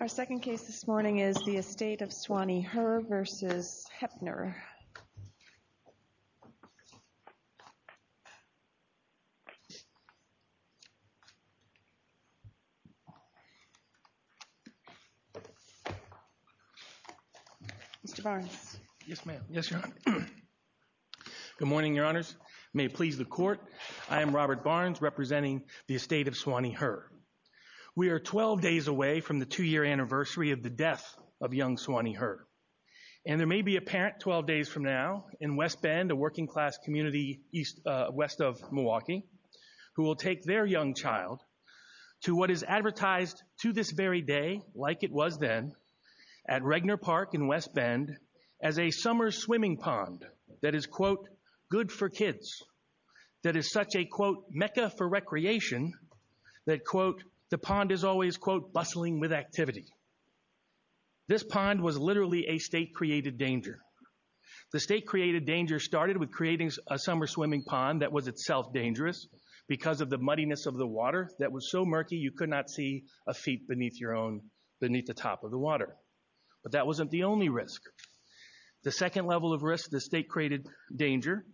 Our second case this morning is the Estate of Swannie Her v. Craig Hoeppner. Mr. Barnes. Yes, ma'am. Yes, Your Honor. Good morning, Your Honors. May it please the Court, I am Robert Barnes representing the Estate of Swannie Her. We are 12 days away from the two-year anniversary of the death of young Swannie Her. And there may be a parent 12 days from now in West Bend, a working-class community west of Milwaukee, who will take their young child to what is advertised to this very day, like it was then, at Regner Park in West Bend as a summer swimming pond that is, quote, good for kids, that is such a, quote, mecca for recreation, that, quote, the pond is always, quote, bustling with activity. This pond was literally a state-created danger. The state-created danger started with creating a summer swimming pond that was itself dangerous because of the muddiness of the water that was so murky you could not see a feet beneath your own, beneath the top of the water. But that wasn't the only risk. The second level of risk, the state-created danger,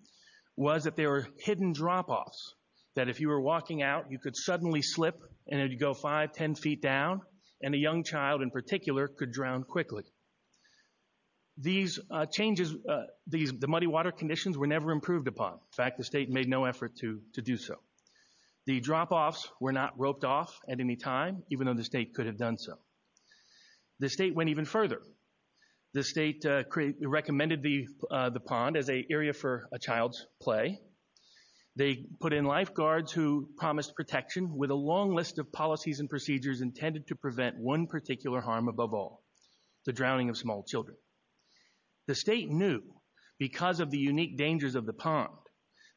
was that there were hidden drop-offs, that if you were walking out, you could suddenly slip and you'd go five, ten feet down, and a young child in particular could drown quickly. These changes, the muddy water conditions were never improved upon. In fact, the state made no effort to do so. The drop-offs were not roped off at any time, even though the state could have done so. The state went even further. The state recommended the pond as an area for a child's play. They put in lifeguards who promised protection with a long list of policies and procedures intended to prevent one particular harm above all, the drowning of small children. The state knew, because of the unique dangers of the pond,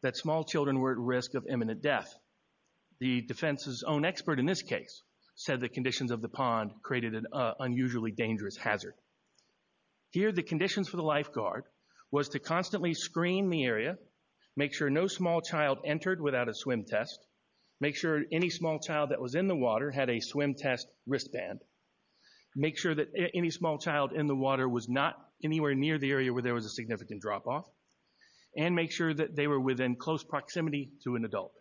that small children were at risk of imminent death. The defense's own expert in this case said the conditions of the pond created an unusually dangerous hazard. Here, the conditions for the lifeguard was to constantly screen the area, make sure no small child entered without a swim test, make sure any small child that was in the water had a swim test wristband, make sure that any small child in the water was not anywhere near the area where there was a significant drop-off, and make sure that they were within close proximity to an adult.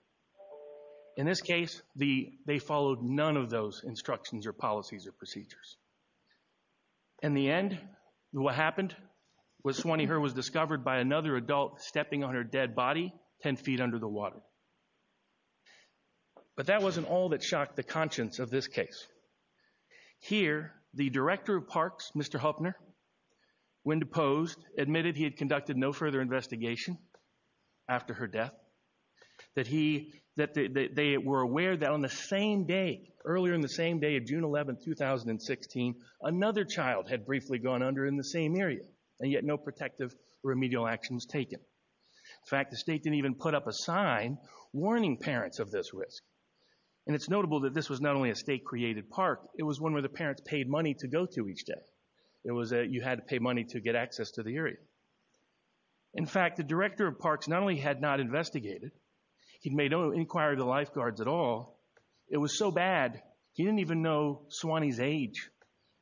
In this case, they followed none of those instructions or policies or procedures. In the end, what happened was Swanee Hur was discovered by another adult stepping on her dead body 10 feet under the water. But that wasn't all that shocked the conscience of this case. Here, the director of parks, Mr. Hupner, when deposed, admitted he had conducted no further investigation after her death, that they were aware that on the same day, earlier in the same day of June 11, 2016, another child had briefly gone under in the same area, and yet no protective remedial actions taken. In fact, the state didn't even put up a sign warning parents of this risk. And it's notable that this was not only a state-created park, it was one where the parents paid money to go to each day. You had to pay money to get access to the area. In fact, the director of parks not only had not investigated, he'd made no inquiry to lifeguards at all. It was so bad, he didn't even know Swanee's age.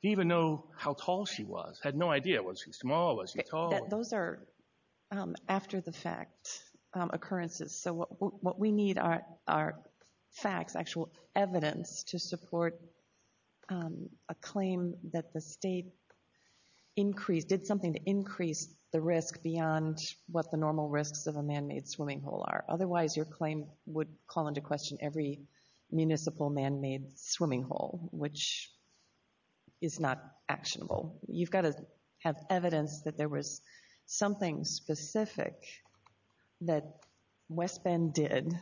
He didn't even know how tall she was. He had no idea. Was she small? Was she tall? Those are after-the-fact occurrences. So what we need are facts, actual evidence to support a claim that the state increased, did something to increase the risk beyond what the normal risks of a man-made swimming hole are. Otherwise, your claim would call into question every municipal man-made swimming hole, which is not actionable. You've got to have evidence that there was something specific that West Bend did,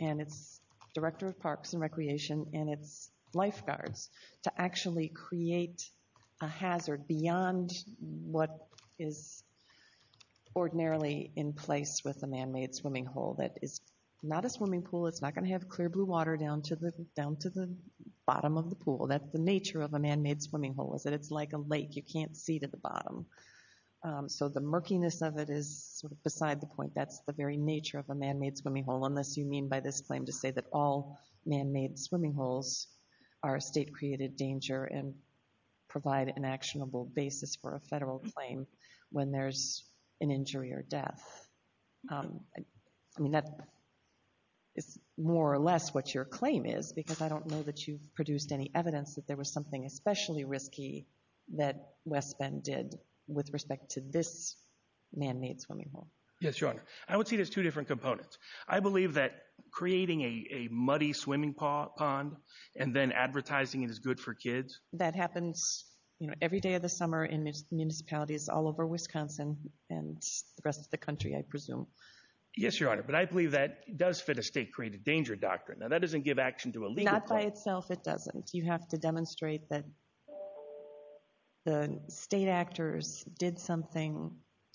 and its director of parks and recreation, and its lifeguards, to actually create a hazard beyond what is ordinarily in place. With a man-made swimming hole, that is not a swimming pool. It's not going to have clear blue water down to the bottom of the pool. That's the nature of a man-made swimming hole, is that it's like a lake. You can't see to the bottom. So the murkiness of it is beside the point. That's the very nature of a man-made swimming hole, unless you mean by this claim to say that all man-made swimming holes are a state-created danger and provide an actionable basis for a federal claim when there's an injury or death. I mean, that is more or less what your claim is, because I don't know that you've produced any evidence that there was something especially risky that West Bend did with respect to this man-made swimming hole. Yes, Your Honor. I would see it as two different components. I believe that creating a muddy swimming pond and then advertising it as good for kids... Every day of the summer in municipalities all over Wisconsin and the rest of the country, I presume. Yes, Your Honor. But I believe that does fit a state-created danger doctrine. Now, that doesn't give action to a legal claim. Not by itself, it doesn't. You have to demonstrate that the state actors did something,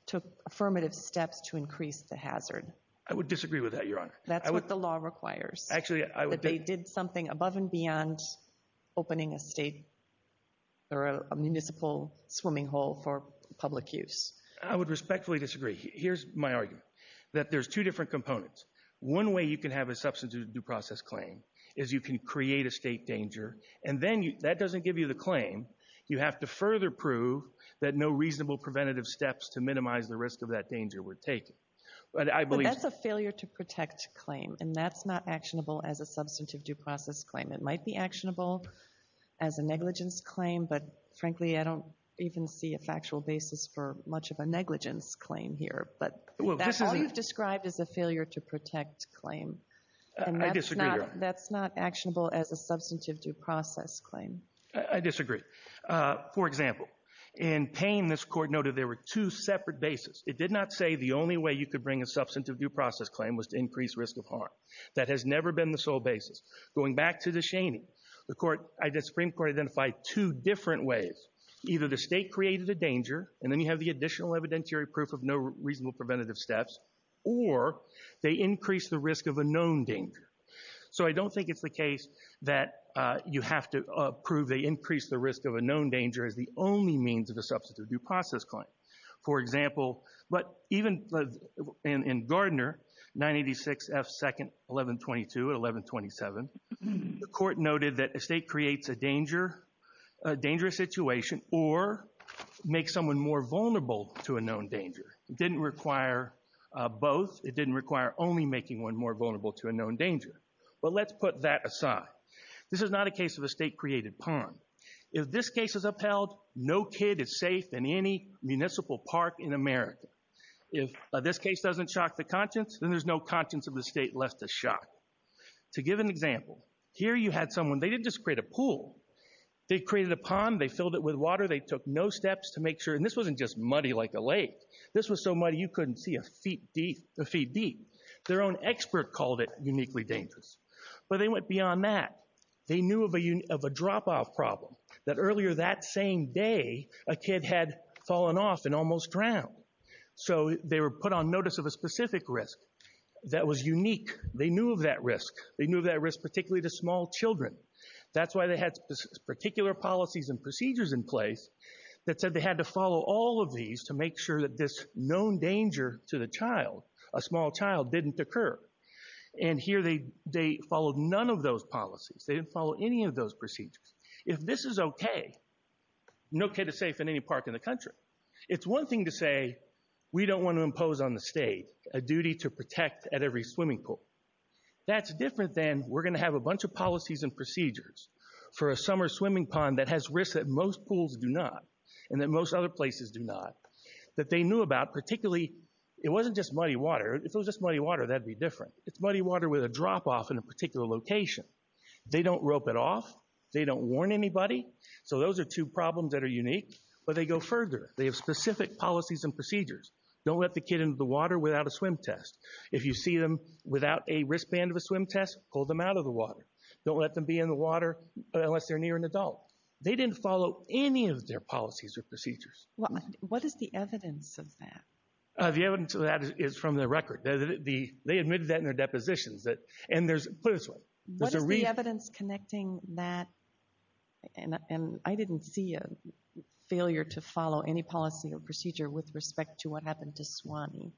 took affirmative steps to increase the hazard. I would disagree with that, Your Honor. That's what the law requires. Actually, I would... They did something above and beyond opening a state or a municipal swimming hole for public use. I would respectfully disagree. Here's my argument, that there's two different components. One way you can have a substantive due process claim is you can create a state danger, and then that doesn't give you the claim. You have to further prove that no reasonable preventative steps to minimize the risk of that danger were taken. But I believe... That's not actionable as a substantive due process claim. It might be actionable as a negligence claim, but frankly, I don't even see a factual basis for much of a negligence claim here. All you've described is a failure-to-protect claim. I disagree, Your Honor. That's not actionable as a substantive due process claim. I disagree. For example, in Payne, this Court noted there were two separate bases. It did not say the only way you could bring a substantive due process claim was to increase risk of harm. That has never been the sole basis. Going back to the Scheney, the Supreme Court identified two different ways. Either the state created a danger, and then you have the additional evidentiary proof of no reasonable preventative steps, or they increased the risk of a known danger. So I don't think it's the case that you have to prove they increased the risk of a known danger as the only means of a substantive due process claim. For example, even in Gardner, 986 F. 2nd. 1122 and 1127, the Court noted that a state creates a danger, a dangerous situation, or makes someone more vulnerable to a known danger. It didn't require both. It didn't require only making one more vulnerable to a known danger. But let's put that aside. This is not a case of a state-created pawn. If this case is upheld, no kid is safe in any municipal park in America. If this case doesn't shock the conscience, then there's no conscience of the state left to shock. To give an example, here you had someone, they didn't just create a pool. They created a pond, they filled it with water, they took no steps to make sure, and this wasn't just muddy like a lake. This was so muddy you couldn't see a feet deep. Their own expert called it uniquely dangerous. But they went beyond that. They knew of a drop-off problem, that earlier that same day, a kid had fallen off and almost drowned. So they were put on notice of a specific risk that was unique. They knew of that risk. They knew of that risk particularly to small children. That's why they had particular policies and procedures in place that said they had to follow all of these to make sure that this known danger to the child, a small child, didn't occur. And here they followed none of those policies. They didn't follow any of those procedures. If this is okay, no kid is safe in any park in the country. It's one thing to say we don't want to impose on the state a duty to protect at every swimming pool. That's different than we're going to have a bunch of policies and procedures for a summer swimming pond that has risks that most pools do not, and that most other places do not, that they knew about particularly. It wasn't just muddy water. If it was just muddy water, that'd be different. It's muddy water with a drop-off in a particular location. They don't rope it off. They don't warn anybody. So those are two problems that are unique. But they go further. They have specific policies and procedures. Don't let the kid in the water without a swim test. If you see them without a wristband of a swim test, pull them out of the water. Don't let them be in the water unless they're near an adult. They didn't follow any of their policies or procedures. What is the evidence of that? The evidence of that is from the record. They admitted that in their depositions. And there's – put it this way, there's a re- What is the evidence connecting that – and I didn't see a failure to follow any policy or procedure with respect to what happened to Swanee.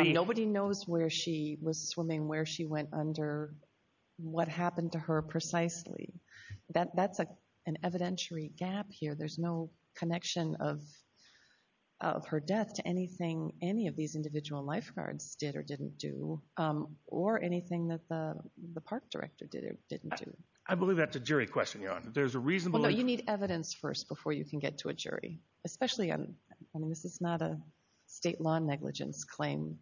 Nobody knows where she was swimming, where she went under, what happened to her precisely. That's an evidentiary gap here. There's no connection of her death to anything any of these individual lifeguards did or didn't do. Or anything that the park director did or didn't do. I believe that's a jury question, Jan. There's a reasonable – Well, no, you need evidence first before you can get to a jury. Especially – I mean, this is not a state law negligence claim.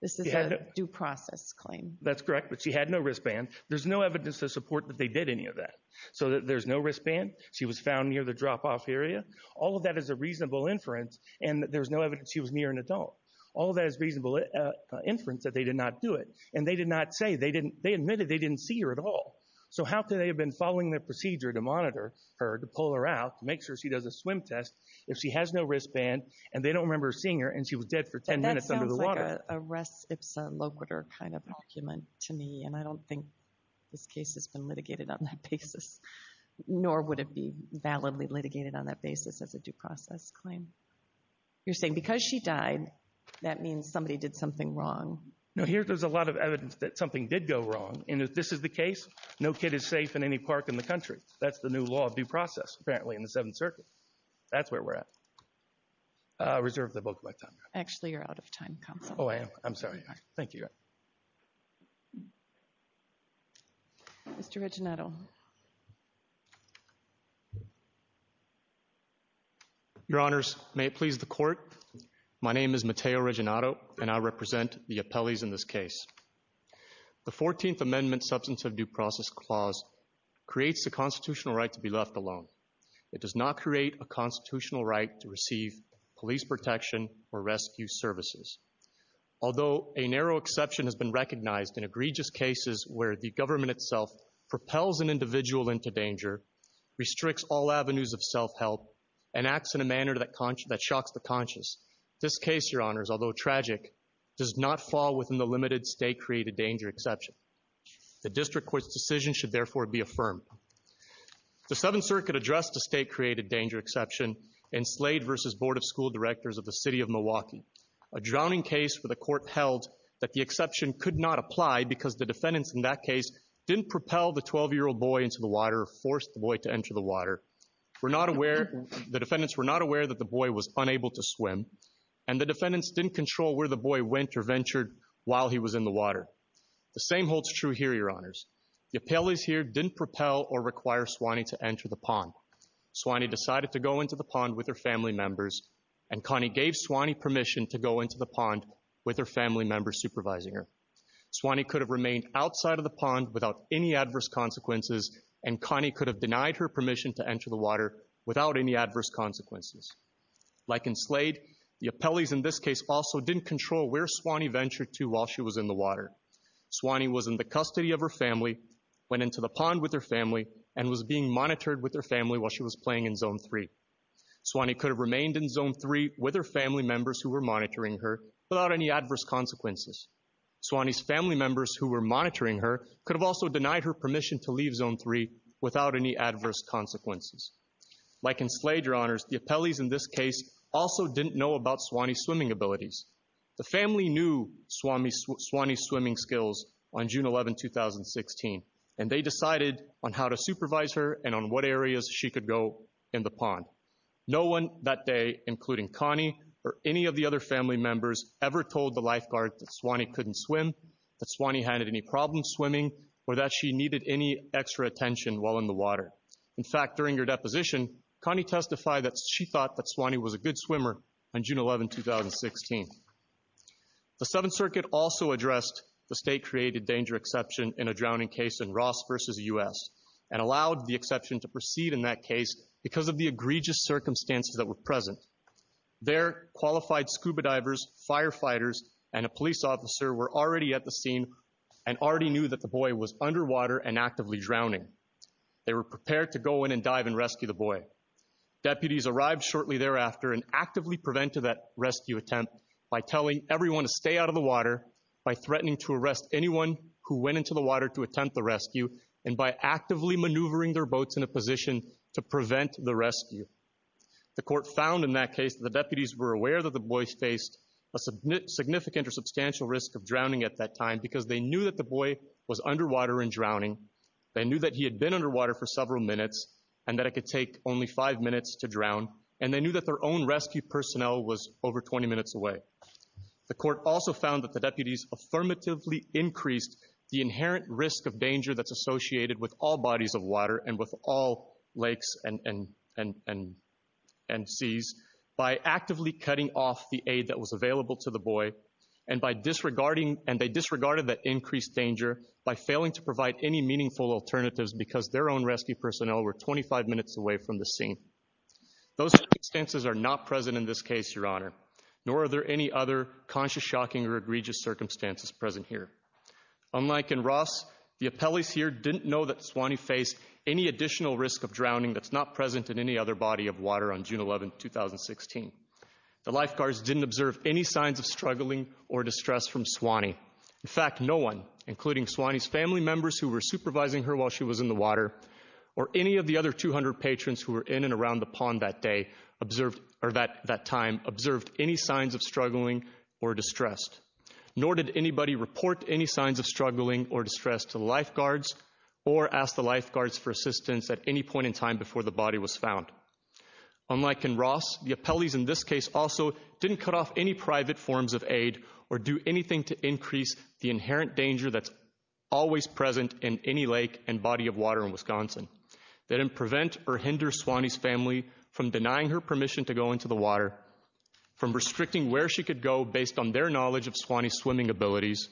This is a due process claim. That's correct. But she had no wristband. There's no evidence to support that they did any of that. So there's no wristband. She was found near the drop-off area. All of that is a reasonable inference. And there's no evidence she was near an adult. All of that is reasonable inference that they did not do it. And they did not say – they admitted they didn't see her at all. So how could they have been following their procedure to pull her out, to make sure she does a swim test, if she has no wristband, and they don't remember seeing her, and she was dead for 10 minutes under the water? That sounds like a res ipsa loquitur kind of argument to me. And I don't think this case has been litigated on that basis. Nor would it be validly litigated on that basis as a due process claim. You're saying because she died, that means somebody did something wrong. No, here there's a lot of evidence that something did go wrong. And if this is the case, no kid is safe in any park in the country. That's the new law of due process, apparently, in the Seventh Circuit. That's where we're at. I reserve the vote for my time now. Actually, you're out of time, counsel. Oh, I am? I'm sorry. Thank you. Mr. Reginato. Your Honors, may it please the Court, my name is Mateo Reginato, and I represent the appellees in this case. The 14th Amendment Substance of Due Process Clause creates the constitutional right to be left alone. It does not create a constitutional right to receive police protection or rescue services. Although a narrow exception has been recognized in egregious cases where the government itself propels an individual into danger, restricts all avenues of self-help, and acts in a manner that shocks the conscious, this case, Your Honors, although tragic, does not fall within the limited state-created danger exception. The District Court's decision should therefore be affirmed. The Seventh Circuit addressed a state-created danger exception in Slade v. Board of School Directors of the City of Milwaukee, a drowning case where the Court held that the exception could not apply because the defendants in that case didn't propel the 12-year-old boy into the water or force the boy to enter the water, were not aware, the defendants were not aware that the boy was unable to swim, and the defendants didn't control where the boy went or ventured while he was in the water. The same holds true here, Your Honors. The appellees here didn't propel or require Swanny to enter the pond. Swanny decided to go into the pond with her family members, and Connie gave Swanny permission to go into the pond with her family members supervising her. Swanny could have remained outside of the pond without any adverse consequences, and Connie could have denied her permission to enter the water without any adverse consequences. Like in Slade, the appellees in this case also didn't control where Swanny ventured to while she was in the water. Swanny was in the custody of her family, went into the pond with her family, and was being monitored with her family while she was playing in Zone 3. Swanny could have remained in Zone 3 with her family members who were monitoring her without any adverse consequences. Swanny's family members who were monitoring her could have also denied her permission to leave Zone 3 without any adverse consequences. Like in Slade, Your Honors, the appellees in this case also didn't know about Swanny's swimming abilities. The family knew Swanny's swimming skills on June 11, 2016, and they decided on how to supervise her and on what areas she could go in the pond. No one that day, including Connie or any of the other family members, ever told the lifeguard that Swanny couldn't swim, that Swanny had any problems swimming, or that she needed any extra attention while in the water. In fact, during her deposition, Connie testified that she thought that Swanny was a good swimmer on June 11, 2016. The Seventh Circuit also addressed the state-created danger exception in a drowning case in Ross v. U.S. and allowed the exception to proceed in that case because of the egregious circumstances that were present. There, qualified scuba divers, firefighters, and a police officer were already at the scene and already knew that the boy was underwater and actively drowning. They were prepared to go in and dive and rescue the boy. Deputies arrived shortly thereafter and actively prevented that rescue attempt by telling everyone to stay out of the water, by threatening to arrest anyone who went into the water to attempt the rescue, and by actively maneuvering their boats in a position to prevent the rescue. The Court found in that case that the deputies were aware that the boy faced a significant or substantial risk of drowning at that time because they knew that the boy was underwater and drowning, they knew that he had been underwater for several minutes and that it could take only five minutes to drown, and they knew that their own rescue personnel was over 20 minutes away. The Court also found that the deputies affirmatively increased the inherent risk of danger that's by actively cutting off the aid that was available to the boy, and they disregarded that increased danger by failing to provide any meaningful alternatives because their own rescue personnel were 25 minutes away from the scene. Those circumstances are not present in this case, Your Honor, nor are there any other conscious, shocking, or egregious circumstances present here. Unlike in Ross, the appellees here didn't know that Swanee faced any additional risk of drowning that's not present in any other body of water on The lifeguards didn't observe any signs of struggling or distress from Swanee. In fact, no one, including Swanee's family members who were supervising her while she was in the water, or any of the other 200 patrons who were in and around the pond that day observed, or that time, observed any signs of struggling or distressed. Nor did anybody report any signs of struggling or distress to the lifeguards or ask the lifeguards for assistance at any point in time before the body was found. Unlike in Ross, the appellees in this case also didn't cut off any private forms of aid or do anything to increase the inherent danger that's always present in any lake and body of water in Wisconsin. They didn't prevent or hinder Swanee's family from denying her permission to go into the water, from restricting where she could go based on their knowledge of Swanee's swimming abilities,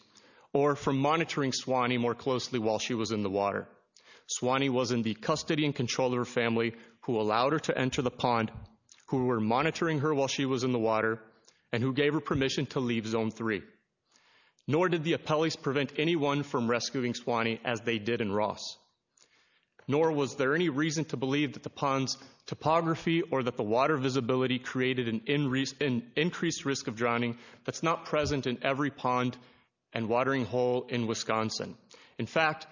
or from monitoring Swanee more closely while she was in the water. Swanee was in the custody and control of her family who allowed her to enter the pond, who were monitoring her while she was in the water, and who gave her permission to leave Zone 3. Nor did the appellees prevent anyone from rescuing Swanee as they did in Ross. Nor was there any reason to believe that the pond's topography or that the water visibility created an increased risk of drowning that's not present in every pond and watering hole in Wisconsin. In fact,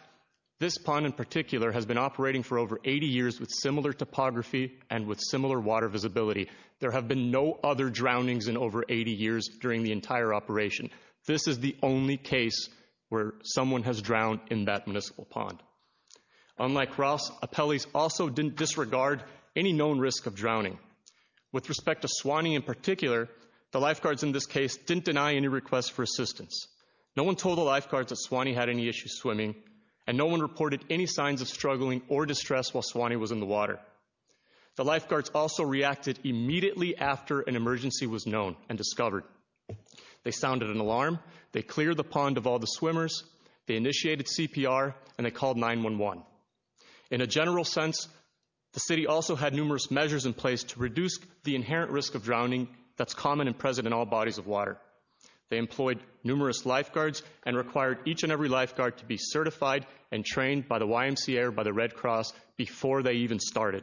this pond in particular has been operating for over 80 years with similar topography and with similar water visibility. There have been no other drownings in over 80 years during the entire operation. This is the only case where someone has drowned in that municipal pond. Unlike Ross, appellees also didn't disregard any known risk of drowning. With respect to Swanee in particular, the lifeguards in this case didn't deny any requests for assistance. No one told the lifeguards that Swanee had any issues swimming, and no one reported any signs of struggling or distress while Swanee was in the water. The lifeguards also reacted immediately after an emergency was known and discovered. They sounded an alarm, they cleared the pond of all the swimmers, they initiated CPR, and they called 911. In a general sense, the City also had numerous measures in place to reduce the inherent risk of drowning that's common and present in all bodies of water. They employed numerous lifeguards and required each and every lifeguard to be certified and trained by the YMCA or by the Red Cross before they even started.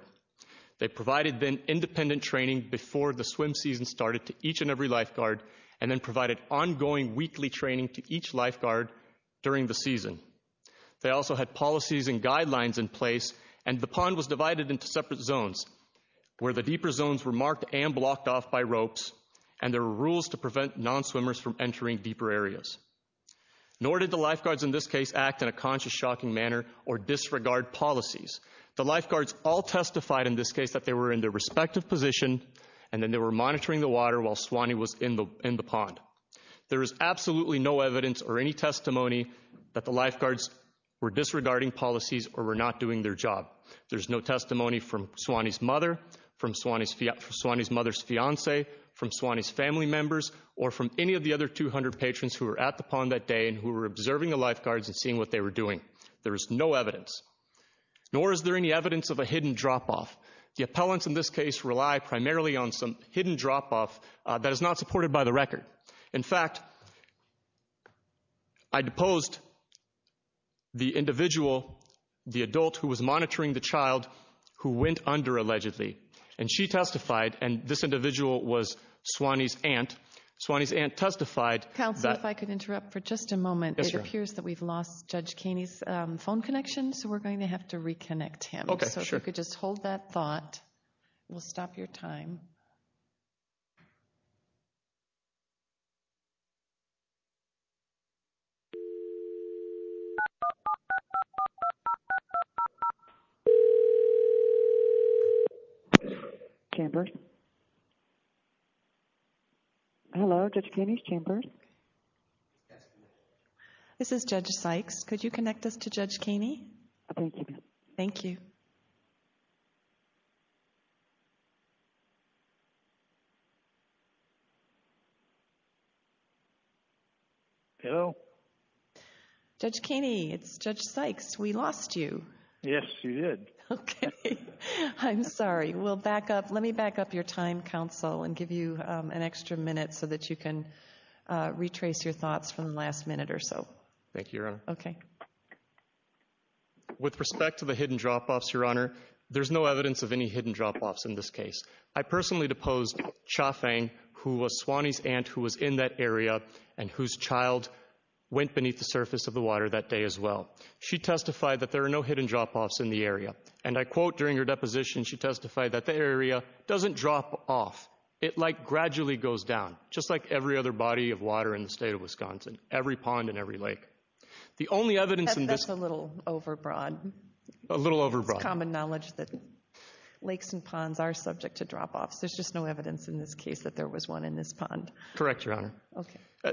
They provided then independent training before the swim season started to each and every lifeguard, and then provided ongoing weekly training to each lifeguard during the season. They also had policies and guidelines in place, and the pond was and there were rules to prevent non-swimmers from entering deeper areas. Nor did the lifeguards in this case act in a conscious, shocking manner or disregard policies. The lifeguards all testified in this case that they were in their respective position and that they were monitoring the water while Swanee was in the pond. There is absolutely no evidence or any testimony that the lifeguards were disregarding policies or were not doing their or from any of the other 200 patrons who were at the pond that day and who were observing the lifeguards and seeing what they were doing. There is no evidence. Nor is there any evidence of a hidden drop-off. The appellants in this case rely primarily on some hidden drop-off that is not supported by the record. In fact, I deposed the individual, the adult who was monitoring the child who went under allegedly, and she testified, and this individual was Swanee's aunt. Swanee's aunt testified that... Counsel, if I could interrupt for just a moment. It appears that we've lost Judge Kaney's phone connection, so we're going to have to reconnect him. So if you could just hold that thought. We'll stop your time. Chamber. Hello, Judge Kaney's Chamber. This is Judge Sykes. Could you connect us to Judge Kaney? Thank you. Hello? Judge Kaney, it's Judge Sykes. We lost you. Yes, you did. I'm sorry. We'll back up. Let me back up your time, Counsel, and give you an extra minute so that you can retrace your thoughts from the last minute or so. Thank you, Your Honor. Okay. With respect to the hidden drop-offs, Your Honor, there's no evidence of any hidden drop-offs in this case. I personally deposed Cha Fang, who was Swanee's aunt who was in that area and whose child went beneath the surface of the water that day as well. She testified that there are no hidden drop-offs in the area, and I quote during her deposition, she testified that the area doesn't drop off. It like gradually goes down, just like every other body of water in the state of Wisconsin, every pond and every lake. That's a little overbroad. A little overbroad. It's common knowledge that lakes and ponds are subject to drop-offs. There's just no evidence in this case that there was one in this pond. Correct, Your Honor.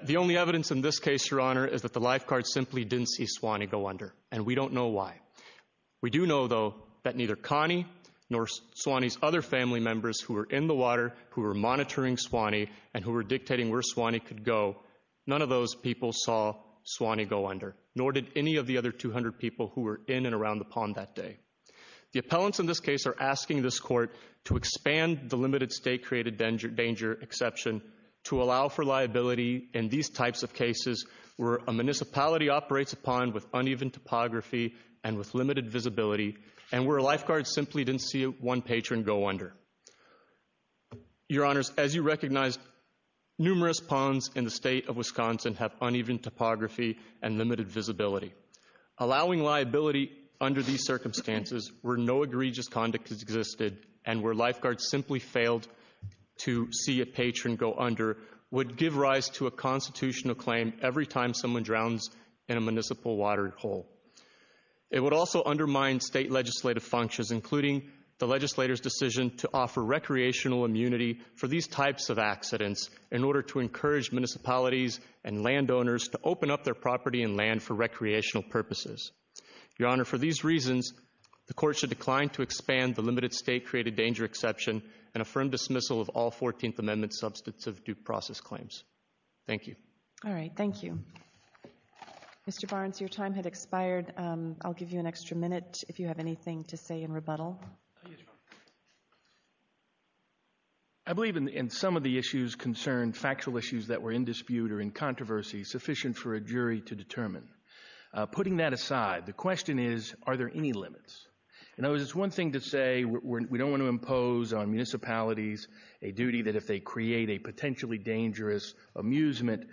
The only evidence in this case, Your Honor, is that the lifeguard simply didn't see Swanee go under, and we don't know why. We do know, though, that neither Connie nor Swanee's other family members who were in the water, who were monitoring Swanee, and who were dictating where Swanee could go, none of those people saw Swanee go under. Nor did any of the other 200 people who were in and around the pond that day. The appellants in this case are asking this court to expand the limited state-created danger exception to allow for liability in these types of cases where a municipality operates a pond with uneven topography and with limited visibility, and where a lifeguard simply didn't see one patron go under. Your Honors, as you recognize, numerous ponds in the state of Wisconsin have uneven topography and limited visibility. Allowing liability under these circumstances where no egregious conduct existed and where lifeguards simply failed to see a patron go under would give rise to a constitutional claim every time someone drowns in a municipal water hole. It would also undermine state legislative functions, including the legislator's decision to offer recreational immunity for these types of accidents in order to encourage municipalities and landowners to open up their property and land for recreational purposes. Your Honor, for these reasons, the court should decline to expand the limited state-created danger exception and affirm dismissal of all 14th Amendment substantive due process claims. Thank you. All right, thank you. Mr. Barnes, your time has expired. I'll give you an extra minute if you have anything to say in rebuttal. I believe in some of the issues concerned, factual issues that were in dispute or in controversy, sufficient for a jury to determine. Putting that aside, the question is are there any limits? In other words, it's one thing to say we don't want to impose on municipalities a duty that if they create a potentially dangerous amusement,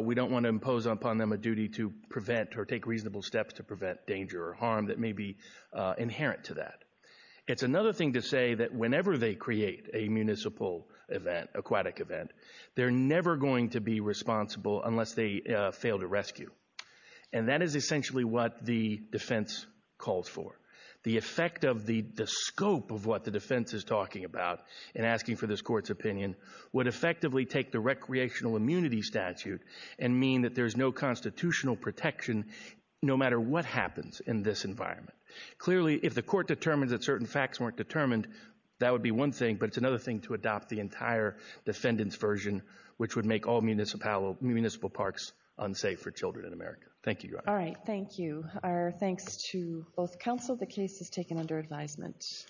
we don't want to impose upon them a duty to prevent or take reasonable steps to prevent danger or harm that may be inherent to that. It's another thing to say that whenever they create a municipal event, aquatic event, they're never going to be responsible unless they fail to rescue. And that is essentially what the defense calls for. The effect of the scope of what the defense is talking about in asking for this Court's opinion would effectively take the recreational immunity statute and mean that there's no constitutional protection no matter what happens in this environment. Clearly, if the Court determines that certain facts weren't determined, that would be one thing, but it's another thing to adopt the entire defendant's version which would make all municipal parks unsafe for children in America. Thank you, Your Honor. All right, thank you. Our thanks to both counsel. The case is taken under advisement.